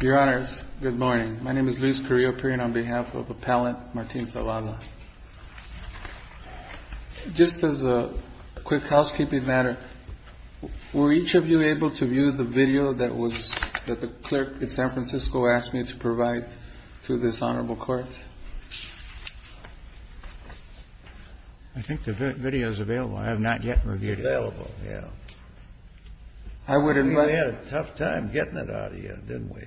Your Honors, good morning. My name is Luis Carrillo-Pirin on behalf of Appellant Martin Zavala. Just as a quick housekeeping matter, were each of you able to view the video that the clerk in San Francisco asked me to provide to this Honorable Court? I think the video is available. I have not yet reviewed it. Available, yeah. I think we had a tough time getting it out of you, didn't we?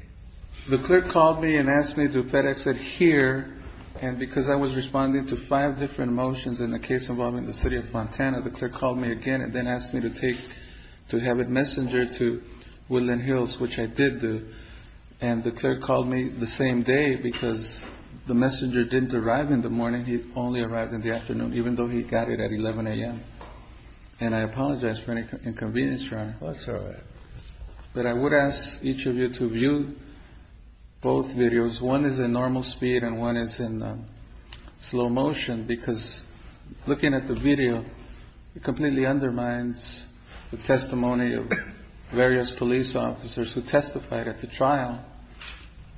The clerk called me and asked me to FedEx it here. And because I was responding to five different motions in the case involving the city of Montana, the clerk called me again and then asked me to have it messengered to Woodland Hills, which I did do. And the clerk called me the same day because the messenger didn't arrive in the morning. He only arrived in the afternoon, even though he got it at 11 a.m. And I apologize for any inconvenience, Your Honor. That's all right. But I would ask each of you to view both videos. One is in normal speed and one is in slow motion because looking at the video, it completely undermines the testimony of various police officers who testified at the trial.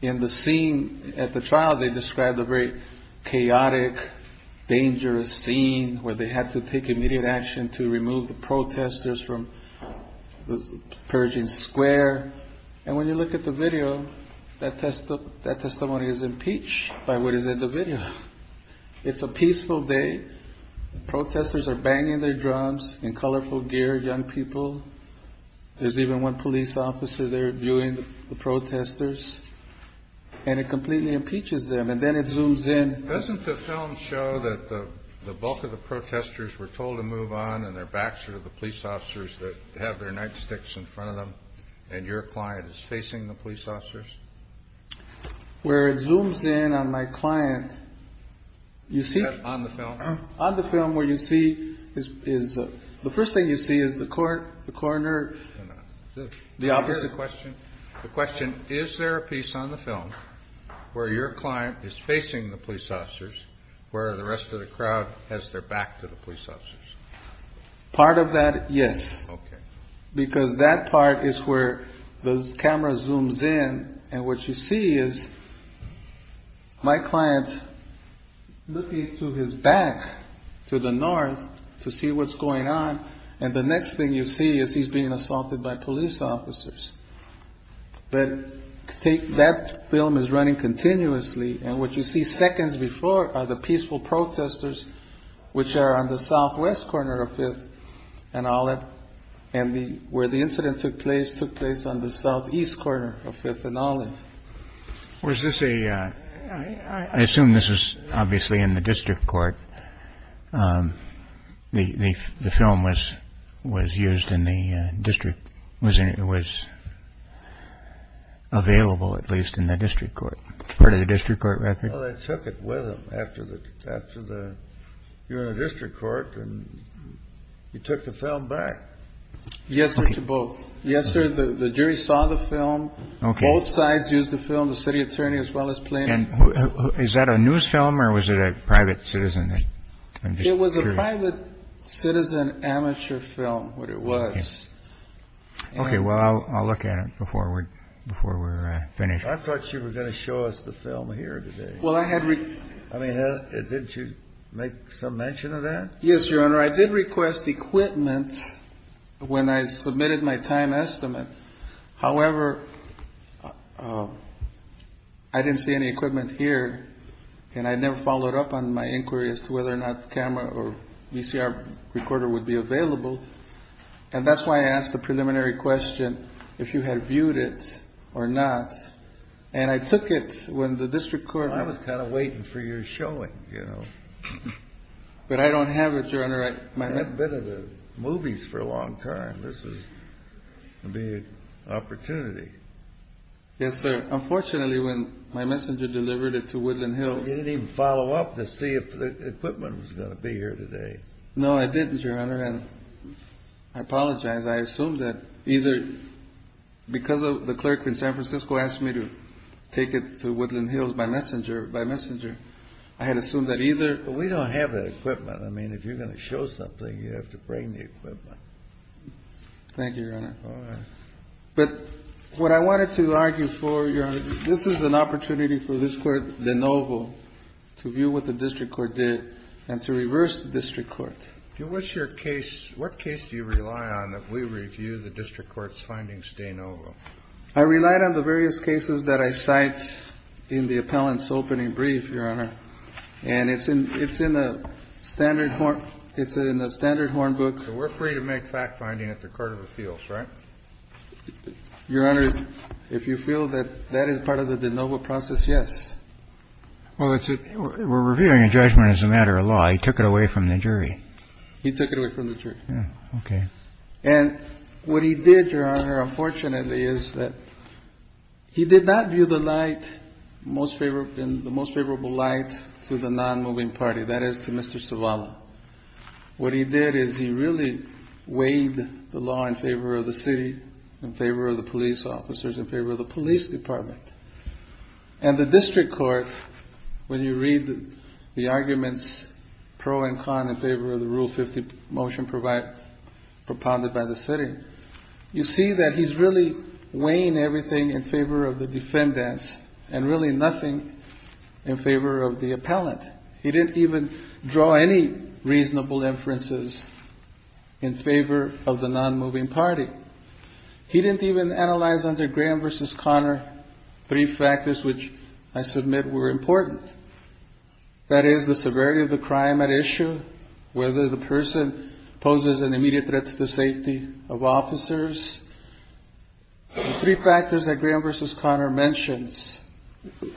In the scene at the trial, they described a very chaotic, dangerous scene where they had to take immediate action to remove the protesters from Pershing Square. And when you look at the video, that testimony is impeached by what is in the video. It's a peaceful day. Protesters are banging their drums in colorful gear, young people. There's even one police officer there viewing the protesters. And it completely impeaches them. And then it zooms in. Doesn't the film show that the bulk of the protesters were told to move on and their backs are to the police officers that have their nightsticks in front of them and your client is facing the police officers? Where it zooms in on my client. Is that on the film? On the film where you see is the first thing you see is the court, the coroner, the officer. The question, is there a piece on the film where your client is facing the police officers where the rest of the crowd has their back to the police officers? Part of that, yes. Because that part is where the camera zooms in. And what you see is my client looking to his back to the north to see what's going on. And the next thing you see is he's being assaulted by police officers. But that film is running continuously. And what you see seconds before are the peaceful protesters which are on the southwest corner of Fifth and Olive. And where the incident took place, took place on the southeast corner of Fifth and Olive. Was this a, I assume this was obviously in the district court. The film was used in the district, was available at least in the district court. Part of the district court record? Well, they took it with them after the district court and you took the film back. Yes, sir, to both. Yes, sir, the jury saw the film. Both sides used the film, the city attorney as well as plaintiff. Is that a news film or was it a private citizen? It was a private citizen amateur film, what it was. Okay, well, I'll look at it before we're finished. I thought you were going to show us the film here today. Well, I had. I mean, did you make some mention of that? Yes, Your Honor, I did request equipment when I submitted my time estimate. However, I didn't see any equipment here. And I never followed up on my inquiry as to whether or not the camera or VCR recorder would be available. And that's why I asked the preliminary question if you had viewed it or not. And I took it when the district court. I was kind of waiting for your showing, you know. But I don't have it, Your Honor. I haven't been to the movies for a long time. This is going to be an opportunity. Yes, sir. Unfortunately, when my messenger delivered it to Woodland Hills. You didn't even follow up to see if the equipment was going to be here today. No, I didn't, Your Honor. And I apologize. I assumed that either because the clerk in San Francisco asked me to take it to Woodland Hills by messenger, I had assumed that either. But we don't have that equipment. I mean, if you're going to show something, you have to bring the equipment. Thank you, Your Honor. All right. But what I wanted to argue for, Your Honor, this is an opportunity for this court de novo to view what the district court did and to reverse the district court. What's your case? What case do you rely on if we review the district court's findings de novo? I relied on the various cases that I cite in the appellant's opening brief, Your Honor. And it's in the standard horn book. So we're free to make fact-finding at the court of appeals, right? Your Honor, if you feel that that is part of the de novo process, yes. Well, that's it. We're reviewing a judgment as a matter of law. He took it away from the jury. He took it away from the jury. Okay. And what he did, Your Honor, unfortunately, is that he did not view the light, the most favorable light to the non-moving party, that is to Mr. Sovala. What he did is he really weighed the law in favor of the city, in favor of the police officers, in favor of the police department. And the district court, when you read the arguments pro and con in favor of the Rule 50 motion propounded by the city, you see that he's really weighing everything in favor of the defendants and really nothing in favor of the appellant. He didn't even draw any reasonable inferences in favor of the non-moving party. He didn't even analyze under Graham v. Connor three factors which I submit were important. That is the severity of the crime at issue, whether the person poses an immediate threat to the safety of officers. Three factors that Graham v. Connor mentions.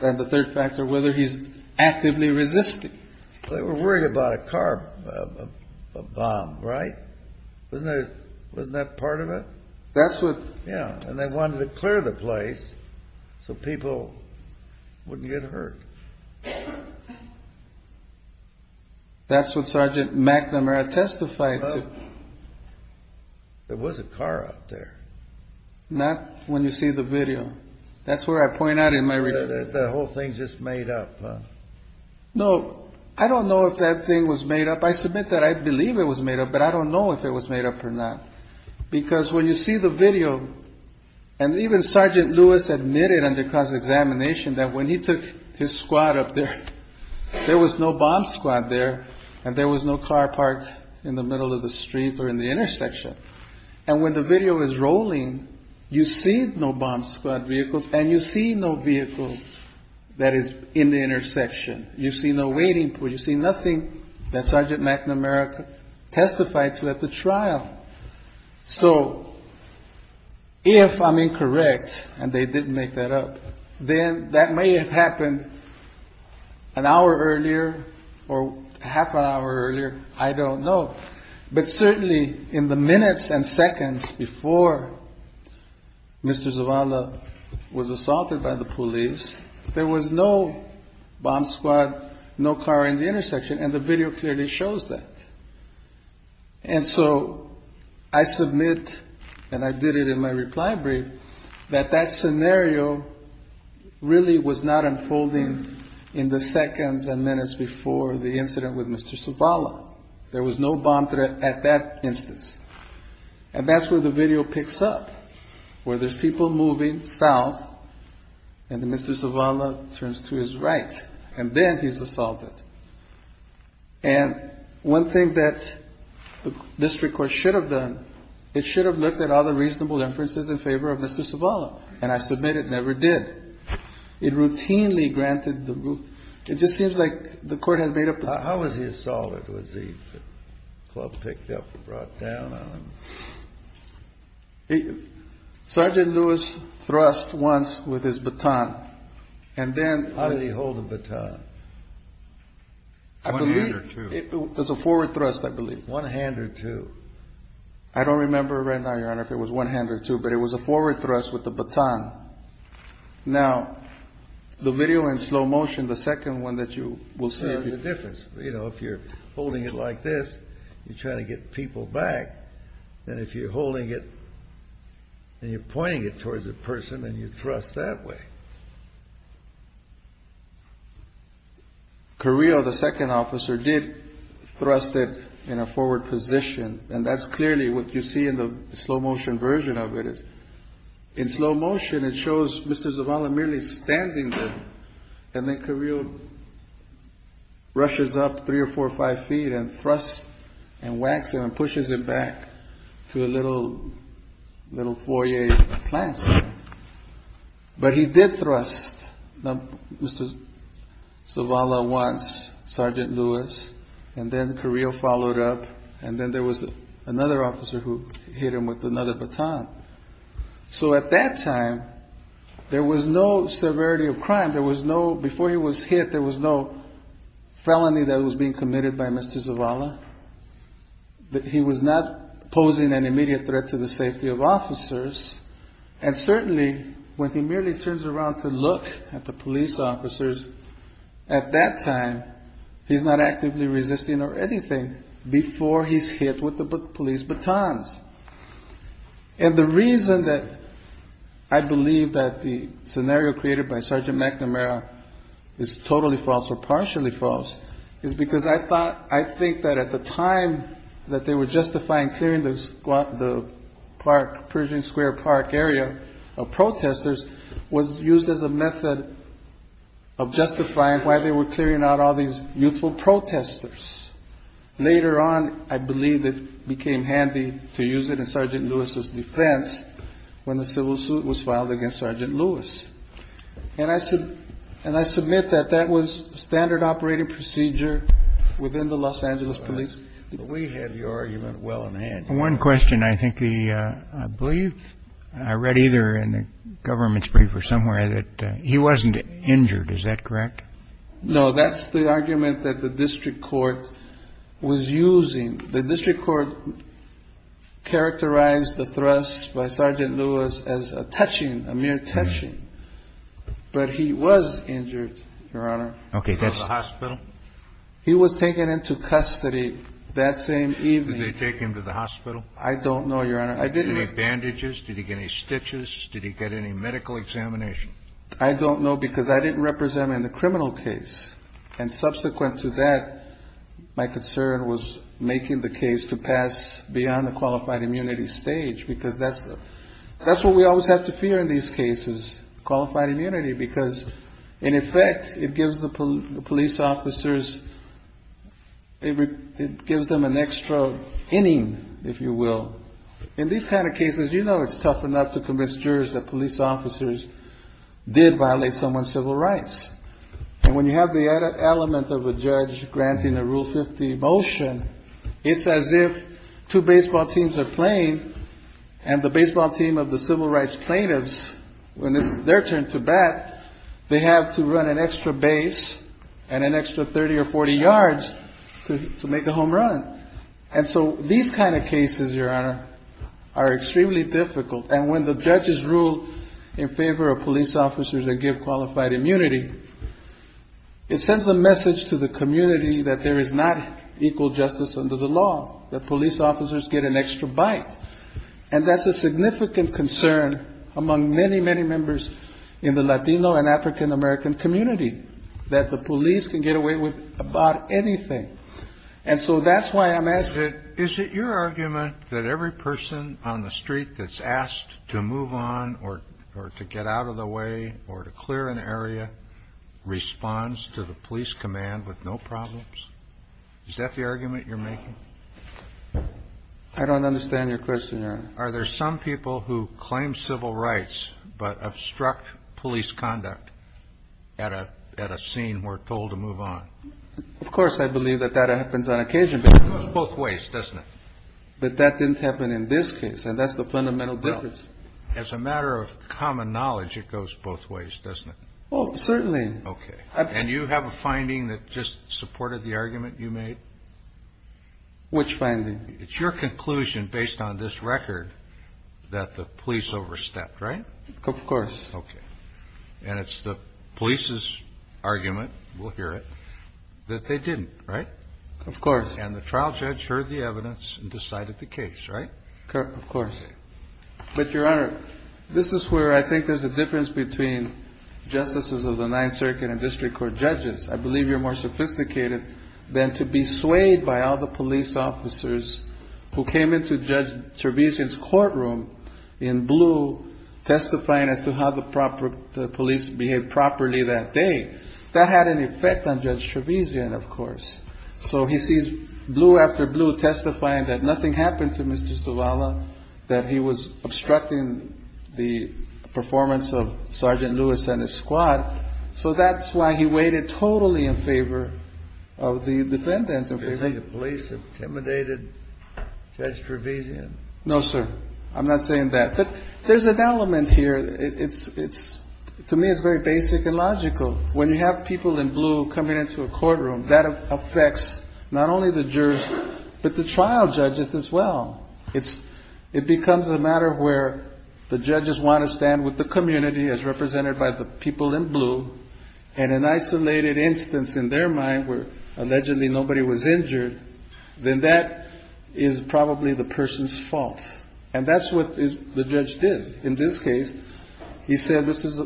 And the third factor, whether he's actively resisting. They were worried about a car bomb, right? Wasn't that part of it? Yeah. And they wanted to clear the place so people wouldn't get hurt. That's what Sergeant McNamara testified to. There was a car out there. Not when you see the video. That's where I point out in my report. The whole thing's just made up, huh? No. I don't know if that thing was made up. I submit that I believe it was made up, but I don't know if it was made up or not. Because when you see the video, and even Sergeant Lewis admitted under cross-examination that when he took his squad up there, there was no bomb squad there and there was no car parked in the middle of the street or in the intersection. And when the video is rolling, you see no bomb squad vehicles and you see no vehicle that is in the intersection. You see no waiting pool. You see nothing that Sergeant McNamara testified to at the trial. So if I'm incorrect and they didn't make that up, then that may have happened an hour earlier or half an hour earlier. I don't know. But certainly in the minutes and seconds before Mr. Zavala was assaulted by the police, there was no bomb squad, no car in the intersection. And the video clearly shows that. And so I submit, and I did it in my reply brief, that that scenario really was not unfolding in the seconds and minutes before the incident with Mr. Zavala. There was no bomb threat at that instance. And that's where the video picks up, where there's people moving south and Mr. Zavala turns to his right. And then he's assaulted. And one thing that the district court should have done, it should have looked at all the reasonable inferences in favor of Mr. Zavala. And I submit it never did. It routinely granted the rule. It just seems like the court has made up its mind. When was he assaulted? Was the club picked up and brought down on him? Sergeant Lewis thrust once with his baton. How did he hold the baton? One hand or two. It was a forward thrust, I believe. One hand or two. I don't remember right now, Your Honor, if it was one hand or two, but it was a forward thrust with the baton. Now, the video in slow motion, the second one that you will see. You know, if you're holding it like this, you're trying to get people back. And if you're holding it and you're pointing it towards a person and you thrust that way. Carrillo, the second officer, did thrust it in a forward position. And that's clearly what you see in the slow motion version of it. In slow motion, it shows Mr. Zavala merely standing there. And then Carrillo rushes up three or four or five feet and thrusts and whacks him and pushes him back to a little little foyer. But he did thrust Mr. Zavala once, Sergeant Lewis. And then Carrillo followed up. And then there was another officer who hit him with another baton. So at that time, there was no severity of crime. There was no before he was hit. There was no felony that was being committed by Mr. Zavala. He was not posing an immediate threat to the safety of officers. And certainly when he merely turns around to look at the police officers at that time, he's not actively resisting or anything before he's hit with the police batons. And the reason that I believe that the scenario created by Sergeant McNamara is totally false or partially false is because I thought, I think that at the time that they were justifying clearing the park, Pershing Square Park area of protesters, was used as a method of justifying why they were clearing out all these youthful protesters. Later on, I believe it became handy to use it in Sergeant Lewis's defense when the civil suit was filed against Sergeant Lewis. And I said and I submit that that was standard operating procedure within the Los Angeles police. We have your argument. Well, and I had one question. I think the I believe I read either in the government's brief or somewhere that he wasn't injured. Is that correct? No, that's the argument that the district court was using. The district court characterized the thrust by Sergeant Lewis as a touching, a mere touching. But he was injured, Your Honor. OK, that's the hospital. He was taken into custody that same evening. They take him to the hospital. I don't know, Your Honor. I didn't make bandages. Did he get any stitches? Did he get any medical examination? I don't know because I didn't represent him in the criminal case. And subsequent to that, my concern was making the case to pass beyond the qualified immunity stage, because that's that's what we always have to fear in these cases. Qualified immunity, because in effect, it gives the police officers. It gives them an extra inning, if you will. In these kind of cases, you know, it's tough enough to convince jurors that police officers did violate someone's civil rights. And when you have the element of a judge granting the Rule 50 motion, it's as if two baseball teams are playing and the baseball team of the civil rights plaintiffs, when it's their turn to bat, they have to run an extra base and an extra 30 or 40 yards to make a home run. And so these kind of cases, Your Honor, are extremely difficult. And when the judges rule in favor of police officers and give qualified immunity, it sends a message to the community that there is not equal justice under the law, that police officers get an extra bite. And that's a significant concern among many, many members in the Latino and African-American community, that the police can get away with about anything. And so that's why I'm asking. Is it your argument that every person on the street that's asked to move on or to get out of the way or to clear an area responds to the police command with no problems? Is that the argument you're making? I don't understand your question, Your Honor. Are there some people who claim civil rights but obstruct police conduct at a scene where told to move on? Of course, I believe that that happens on occasion. It goes both ways, doesn't it? But that didn't happen in this case, and that's the fundamental difference. As a matter of common knowledge, it goes both ways, doesn't it? Oh, certainly. Okay. And you have a finding that just supported the argument you made? Which finding? It's your conclusion based on this record that the police overstepped, right? Of course. Okay. And it's the police's argument, we'll hear it, that they didn't, right? Of course. And the trial judge heard the evidence and decided the case, right? Of course. But, Your Honor, this is where I think there's a difference between justices of the Ninth Circuit and district court judges. I believe you're more sophisticated than to be swayed by all the police officers who came into Judge Trevisan's courtroom in blue testifying as to how the police behaved properly that day. That had an effect on Judge Trevisan, of course. So he sees blue after blue testifying that nothing happened to Mr. Zavala, that he was obstructing the performance of Sergeant Lewis and his squad. So that's why he waited totally in favor of the defendants. Do you think the police intimidated Judge Trevisan? No, sir. I'm not saying that. But there's an element here. It's to me, it's very basic and logical. When you have people in blue coming into a courtroom, that affects not only the jurors, but the trial judges as well. It's it becomes a matter where the judges want to stand with the community as represented by the people in blue. And an isolated instance in their mind where allegedly nobody was injured, then that is probably the person's fault. And that's what the judge did in this case. He said this is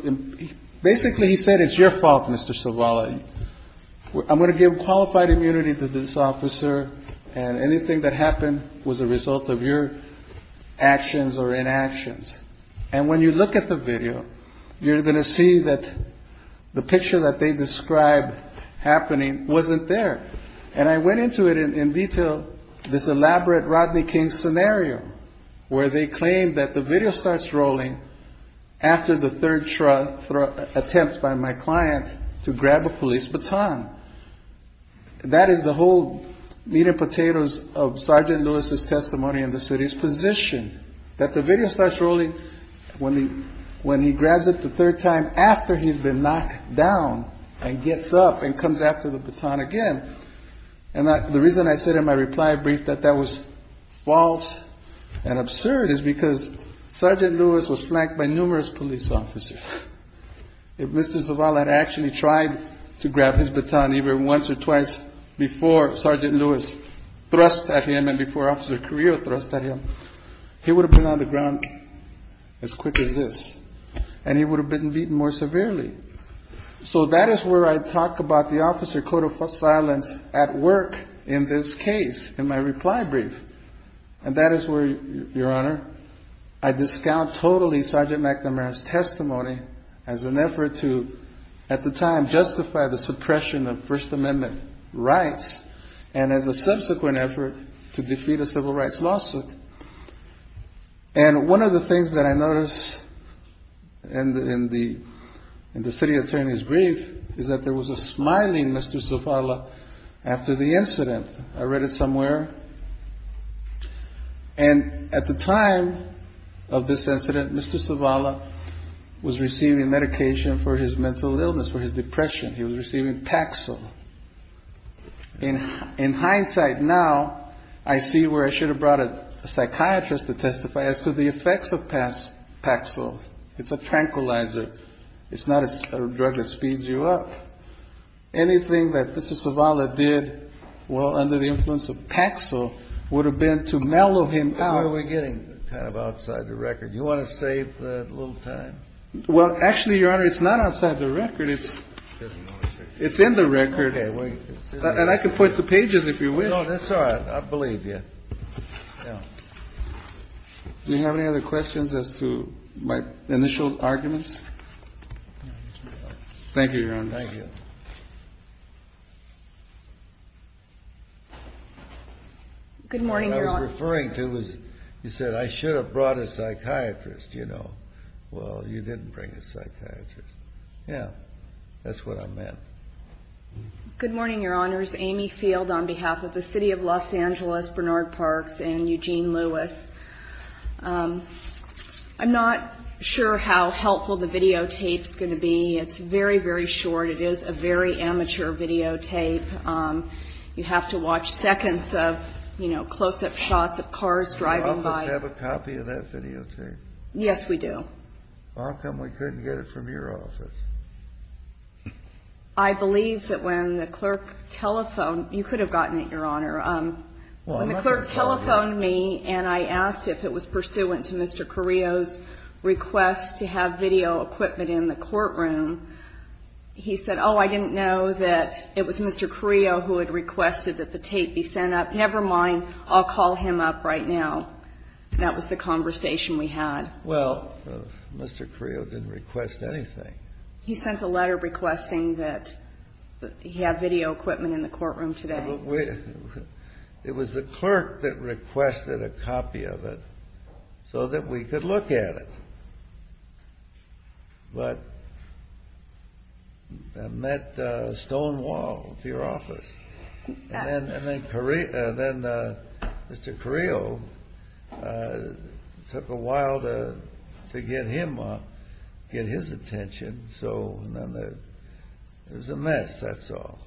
basically he said, it's your fault, Mr. Zavala. I'm going to give qualified immunity to this officer. And anything that happened was a result of your actions or inactions. And when you look at the video, you're going to see that the picture that they described happening wasn't there. And I went into it in detail, this elaborate Rodney King scenario where they claim that the video starts rolling after the third attempt by my client to grab a police baton. That is the whole meat and potatoes of Sergeant Lewis's testimony in the city's position, that the video starts rolling when he when he grabs it the third time after he's been knocked down and gets up and comes after the baton again. And the reason I said in my reply brief that that was false and absurd is because Sergeant Lewis was flanked by numerous police officers. If Mr. Zavala had actually tried to grab his baton either once or twice before Sergeant Lewis thrust at him and before Officer Carrillo thrust at him, he would have been on the ground as quick as this and he would have been beaten more severely. So that is where I talk about the officer code of silence at work in this case, in my reply brief. And that is where, Your Honor, I discount totally Sergeant McNamara's testimony as an effort to at the time justify the suppression of First Amendment rights and as a subsequent effort to defeat a civil rights lawsuit. And one of the things that I notice in the city attorney's brief is that there was a smiling Mr. Zavala after the incident. I read it somewhere. And at the time of this incident, Mr. Zavala was receiving medication for his mental illness, for his depression. He was receiving Paxil. In hindsight now, I see where I should have brought a psychiatrist to testify as to the effects of Paxil. It's a tranquilizer. It's not a drug that speeds you up. Anything that Mr. Zavala did well under the influence of Paxil would have been to mellow him out. Why are we getting kind of outside the record? You want to save a little time? Well, actually, Your Honor, it's not outside the record. It's in the record. And I can point to pages if you wish. That's all right. I believe you. Do you have any other questions as to my initial arguments? Thank you, Your Honor. Thank you. Good morning, Your Honor. What I was referring to was you said I should have brought a psychiatrist, you know. Well, you didn't bring a psychiatrist. Yeah, that's what I meant. Good morning, Your Honors. Amy Field on behalf of the city of Los Angeles, Bernard Parks, and Eugene Lewis. I'm not sure how helpful the videotape is going to be. It's very, very short. It is a very amateur videotape. You have to watch seconds of, you know, close-up shots of cars driving by. Do you have a copy of that videotape? Yes, we do. How come we couldn't get it from your office? I believe that when the clerk telephoned. You could have gotten it, Your Honor. When the clerk telephoned me and I asked if it was pursuant to Mr. Carrillo's request to have video equipment in the courtroom, he said, oh, I didn't know that it was Mr. Carrillo who had requested that the tape be sent up. Never mind. I'll call him up right now. That was the conversation we had. Well, Mr. Carrillo didn't request anything. He sent a letter requesting that he have video equipment in the courtroom today. It was the clerk that requested a copy of it so that we could look at it. But I met Stonewall at your office. And then Mr. Carrillo, it took a while to get him to get his attention. So it was a mess, that's all.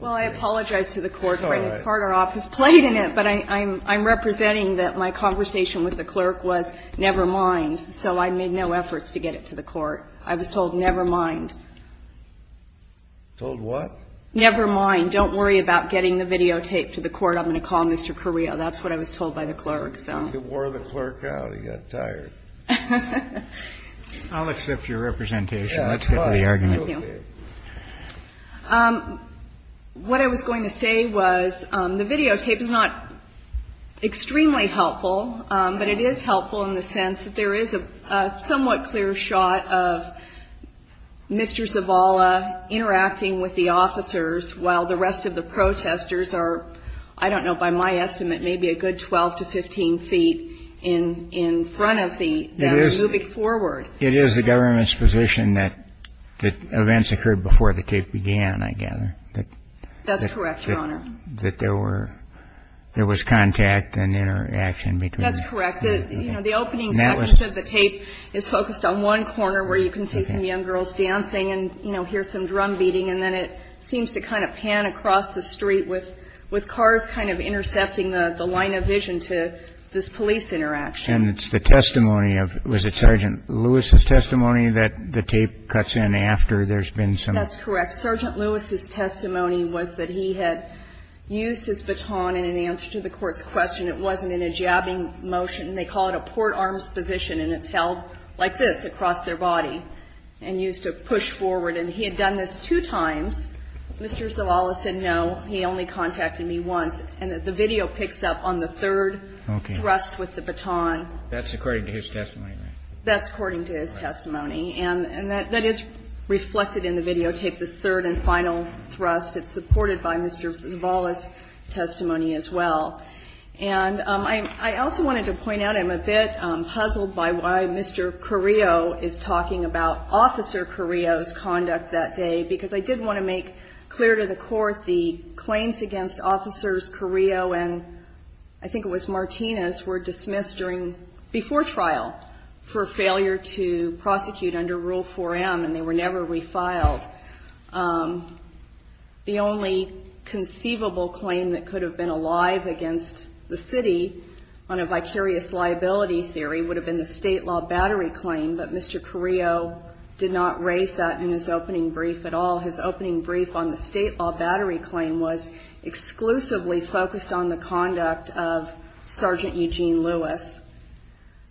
Well, I apologize to the Court. But I'm representing that my conversation with the clerk was, never mind. So I made no efforts to get it to the court. I was told, never mind. Told what? Never mind. Don't worry about getting the videotape to the court. I'm going to call Mr. Carrillo. That's what I was told by the clerk. You wore the clerk out. I'll accept your representation. Let's get to the argument. Thank you. What I was going to say was, the videotape is not extremely helpful. But it is helpful in the sense that there is a somewhat clear shot of Mr. Zavala interacting with the officers while the rest of the protesters are, I don't know, by my estimate, maybe a good 12 to 15 feet in front of them moving forward. It is the government's position that events occurred before the tape began, I gather. That's correct, Your Honor. That there was contact and interaction between them. That's correct. The opening section of the tape is focused on one corner where you can see some young girls dancing and hear some drum beating. And then it seems to kind of pan across the street with cars kind of intercepting the line of vision to this police interaction. And it's the testimony of, was it Sergeant Lewis' testimony that the tape cuts in after there's been some? That's correct. Sergeant Lewis' testimony was that he had used his baton in an answer to the Court's question. It wasn't in a jabbing motion. They call it a port-arms position, and it's held like this across their body and used to push forward. And he had done this two times. Mr. Zavala said no. He only contacted me once. And the video picks up on the third thrust with the baton. That's according to his testimony, right? That's according to his testimony. And that is reflected in the videotape, this third and final thrust. It's supported by Mr. Zavala's testimony as well. And I also wanted to point out I'm a bit puzzled by why Mr. Carrillo is talking about Officer Carrillo's conduct that day, because I did want to make clear to the committee that Mr. Carrillo and I think it was Martinez were dismissed before trial for failure to prosecute under Rule 4M, and they were never refiled. The only conceivable claim that could have been alive against the city on a vicarious liability theory would have been the state law battery claim, but Mr. Carrillo did not raise that in his opening brief at all. His opening brief on the state law battery claim was exclusively focused on the conduct of Sergeant Eugene Lewis.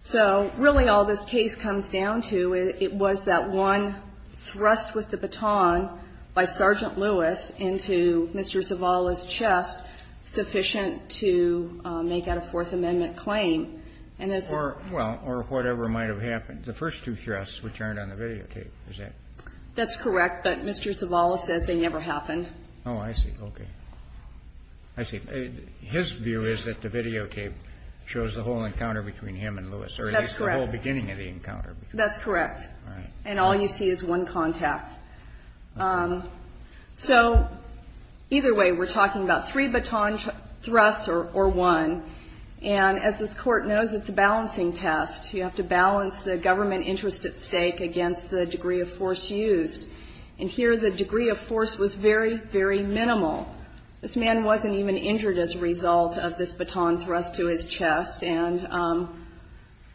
So really all this case comes down to, it was that one thrust with the baton by Sergeant Lewis into Mr. Zavala's chest sufficient to make out a Fourth Amendment claim. And as this was the first two thrusts, which aren't on the videotape, is that correct? That's correct. But Mr. Zavala says they never happened. Oh, I see. Okay. I see. His view is that the videotape shows the whole encounter between him and Lewis, or at least the whole beginning of the encounter. That's correct. All right. And all you see is one contact. So either way, we're talking about three baton thrusts or one. And as this Court knows, it's a balancing test. You have to balance the government interest at stake against the degree of force used. And here the degree of force was very, very minimal. This man wasn't even injured as a result of this baton thrust to his chest. And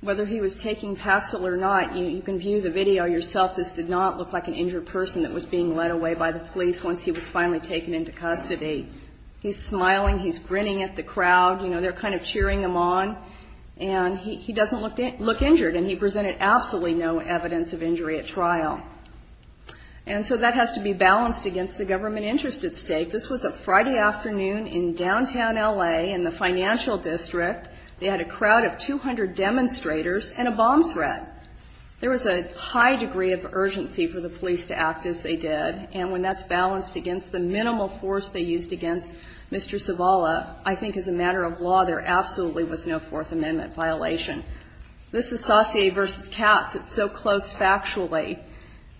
whether he was taking PASOL or not, you can view the video yourself. This did not look like an injured person that was being led away by the police once he was finally taken into custody. He's smiling. He's grinning at the crowd. You know, they're kind of cheering him on. And he doesn't look injured. And he presented absolutely no evidence of injury at trial. And so that has to be balanced against the government interest at stake. This was a Friday afternoon in downtown L.A. in the financial district. They had a crowd of 200 demonstrators and a bomb threat. There was a high degree of urgency for the police to act as they did. And when that's balanced against the minimal force they used against Mr. Zavala, I think as a matter of law, there absolutely was no Fourth Amendment violation. This is Saussure v. Katz. It's so close factually.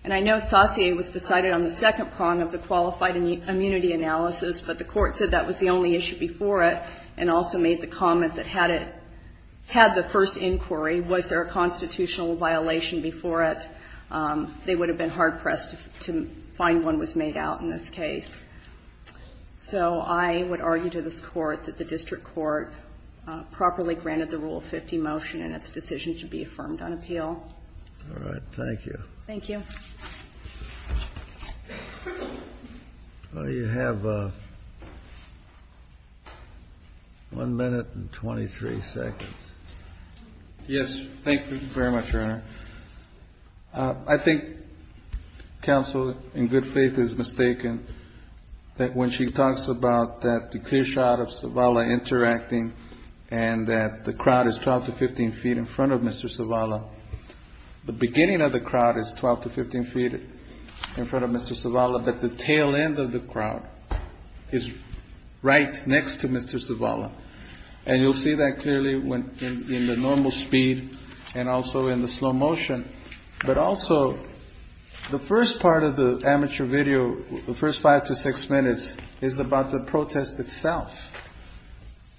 And I know Saussure was decided on the second prong of the qualified immunity analysis, but the court said that was the only issue before it and also made the comment that had it had the first inquiry, was there a constitutional violation before it, they would have been hard-pressed to find one was made out in this case. So I would argue to this Court that the district court properly granted the Rule 50 motion and its decision to be affirmed on appeal. All right. Thank you. Thank you. Well, you have 1 minute and 23 seconds. Yes. Thank you very much, Your Honor. I think counsel, in good faith, is mistaken that when she talks about the clear shot of Zavala interacting and that the crowd is 12 to 15 feet in front of Mr. Zavala, the beginning of the crowd is 12 to 15 feet in front of Mr. Zavala, but the tail end of the crowd is right next to Mr. Zavala. And you'll see that clearly in the normal speed and also in the slow motion. But also the first part of the amateur video, the first five to six minutes, is about the protest itself.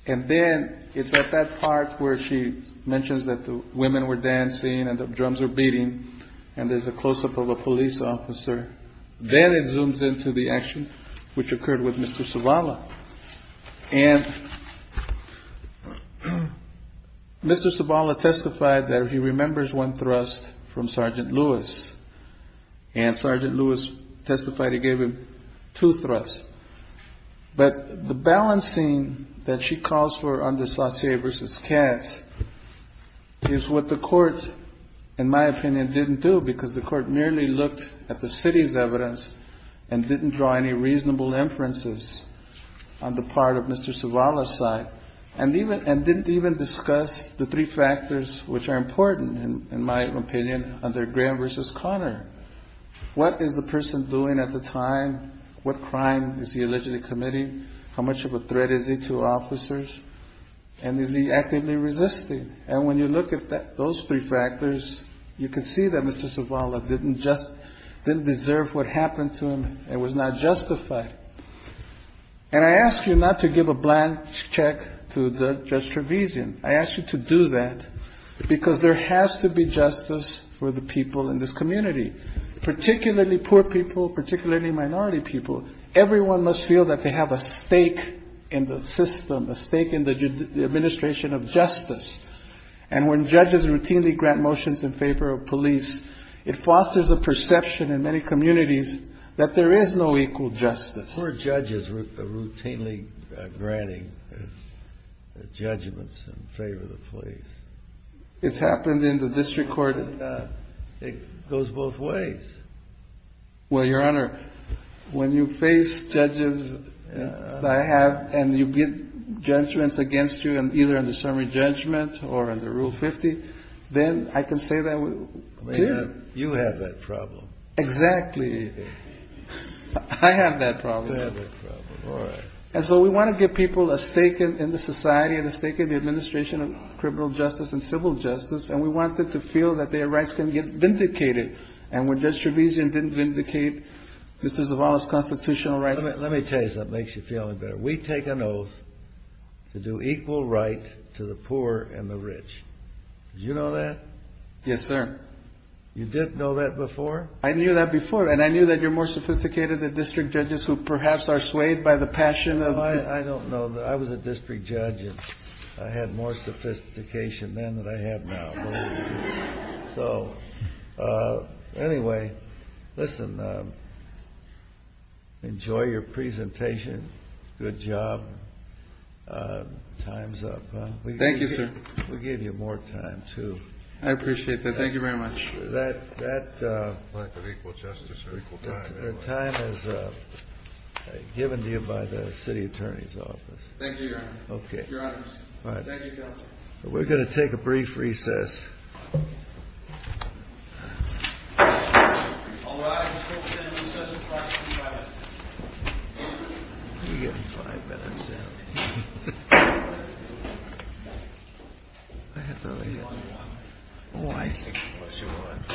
And then it's at that part where she mentions that the women were dancing and the drums were beating and there's a close-up of a police officer. Then it zooms into the action which occurred with Mr. Zavala. And Mr. Zavala testified that he remembers one thrust from Sergeant Lewis. And Sergeant Lewis testified he gave him two thrusts. But the balancing that she calls for under Saucier v. Katz is what the court, in my opinion, didn't do because the court merely looked at the part of Mr. Zavala's side and didn't even discuss the three factors which are important, in my opinion, under Graham v. Conner. What is the person doing at the time? What crime is he allegedly committing? How much of a threat is he to officers? And is he actively resisting? And when you look at those three factors, you can see that Mr. Zavala didn't deserve what happened to him and was not justified. And I ask you not to give a blank check to Judge Trevisan. I ask you to do that because there has to be justice for the people in this community, particularly poor people, particularly minority people. Everyone must feel that they have a stake in the system, a stake in the administration of justice. And when judges routinely grant motions in favor of police, it fosters a perception in many communities that there is no equal justice. The poor judges are routinely granting judgments in favor of the police. It's happened in the district court. It goes both ways. Well, Your Honor, when you face judges that I have and you get judgments against you, either in the summary judgment or under Rule 50, then I can say that too. I mean, you have that problem. Exactly. I have that problem. You have that problem. All right. And so we want to give people a stake in the society and a stake in the administration of criminal justice and civil justice. And we want them to feel that their rights can get vindicated. And when Judge Trevisan didn't vindicate Mr. Zavala's constitutional rights... Let me tell you something that makes you feel better. We take an oath to do equal right to the poor and the rich. Did you know that? Yes, sir. You didn't know that before? I knew that before. And I knew that you're more sophisticated than district judges who perhaps are swayed by the passion of... I don't know. I was a district judge and I had more sophistication then than I have now. Anyway, listen, enjoy your presentation. Good job. Time's up. Thank you, sir. We'll give you more time, too. I appreciate that. Thank you very much. That time is given to you by the city attorney's office. Thank you, Your Honor. Thank you, Counsel. We're going to take a brief recess. I'll allow you to present your search warrant for five minutes. We'll give him five minutes, then. I have it over here. Oh, I see.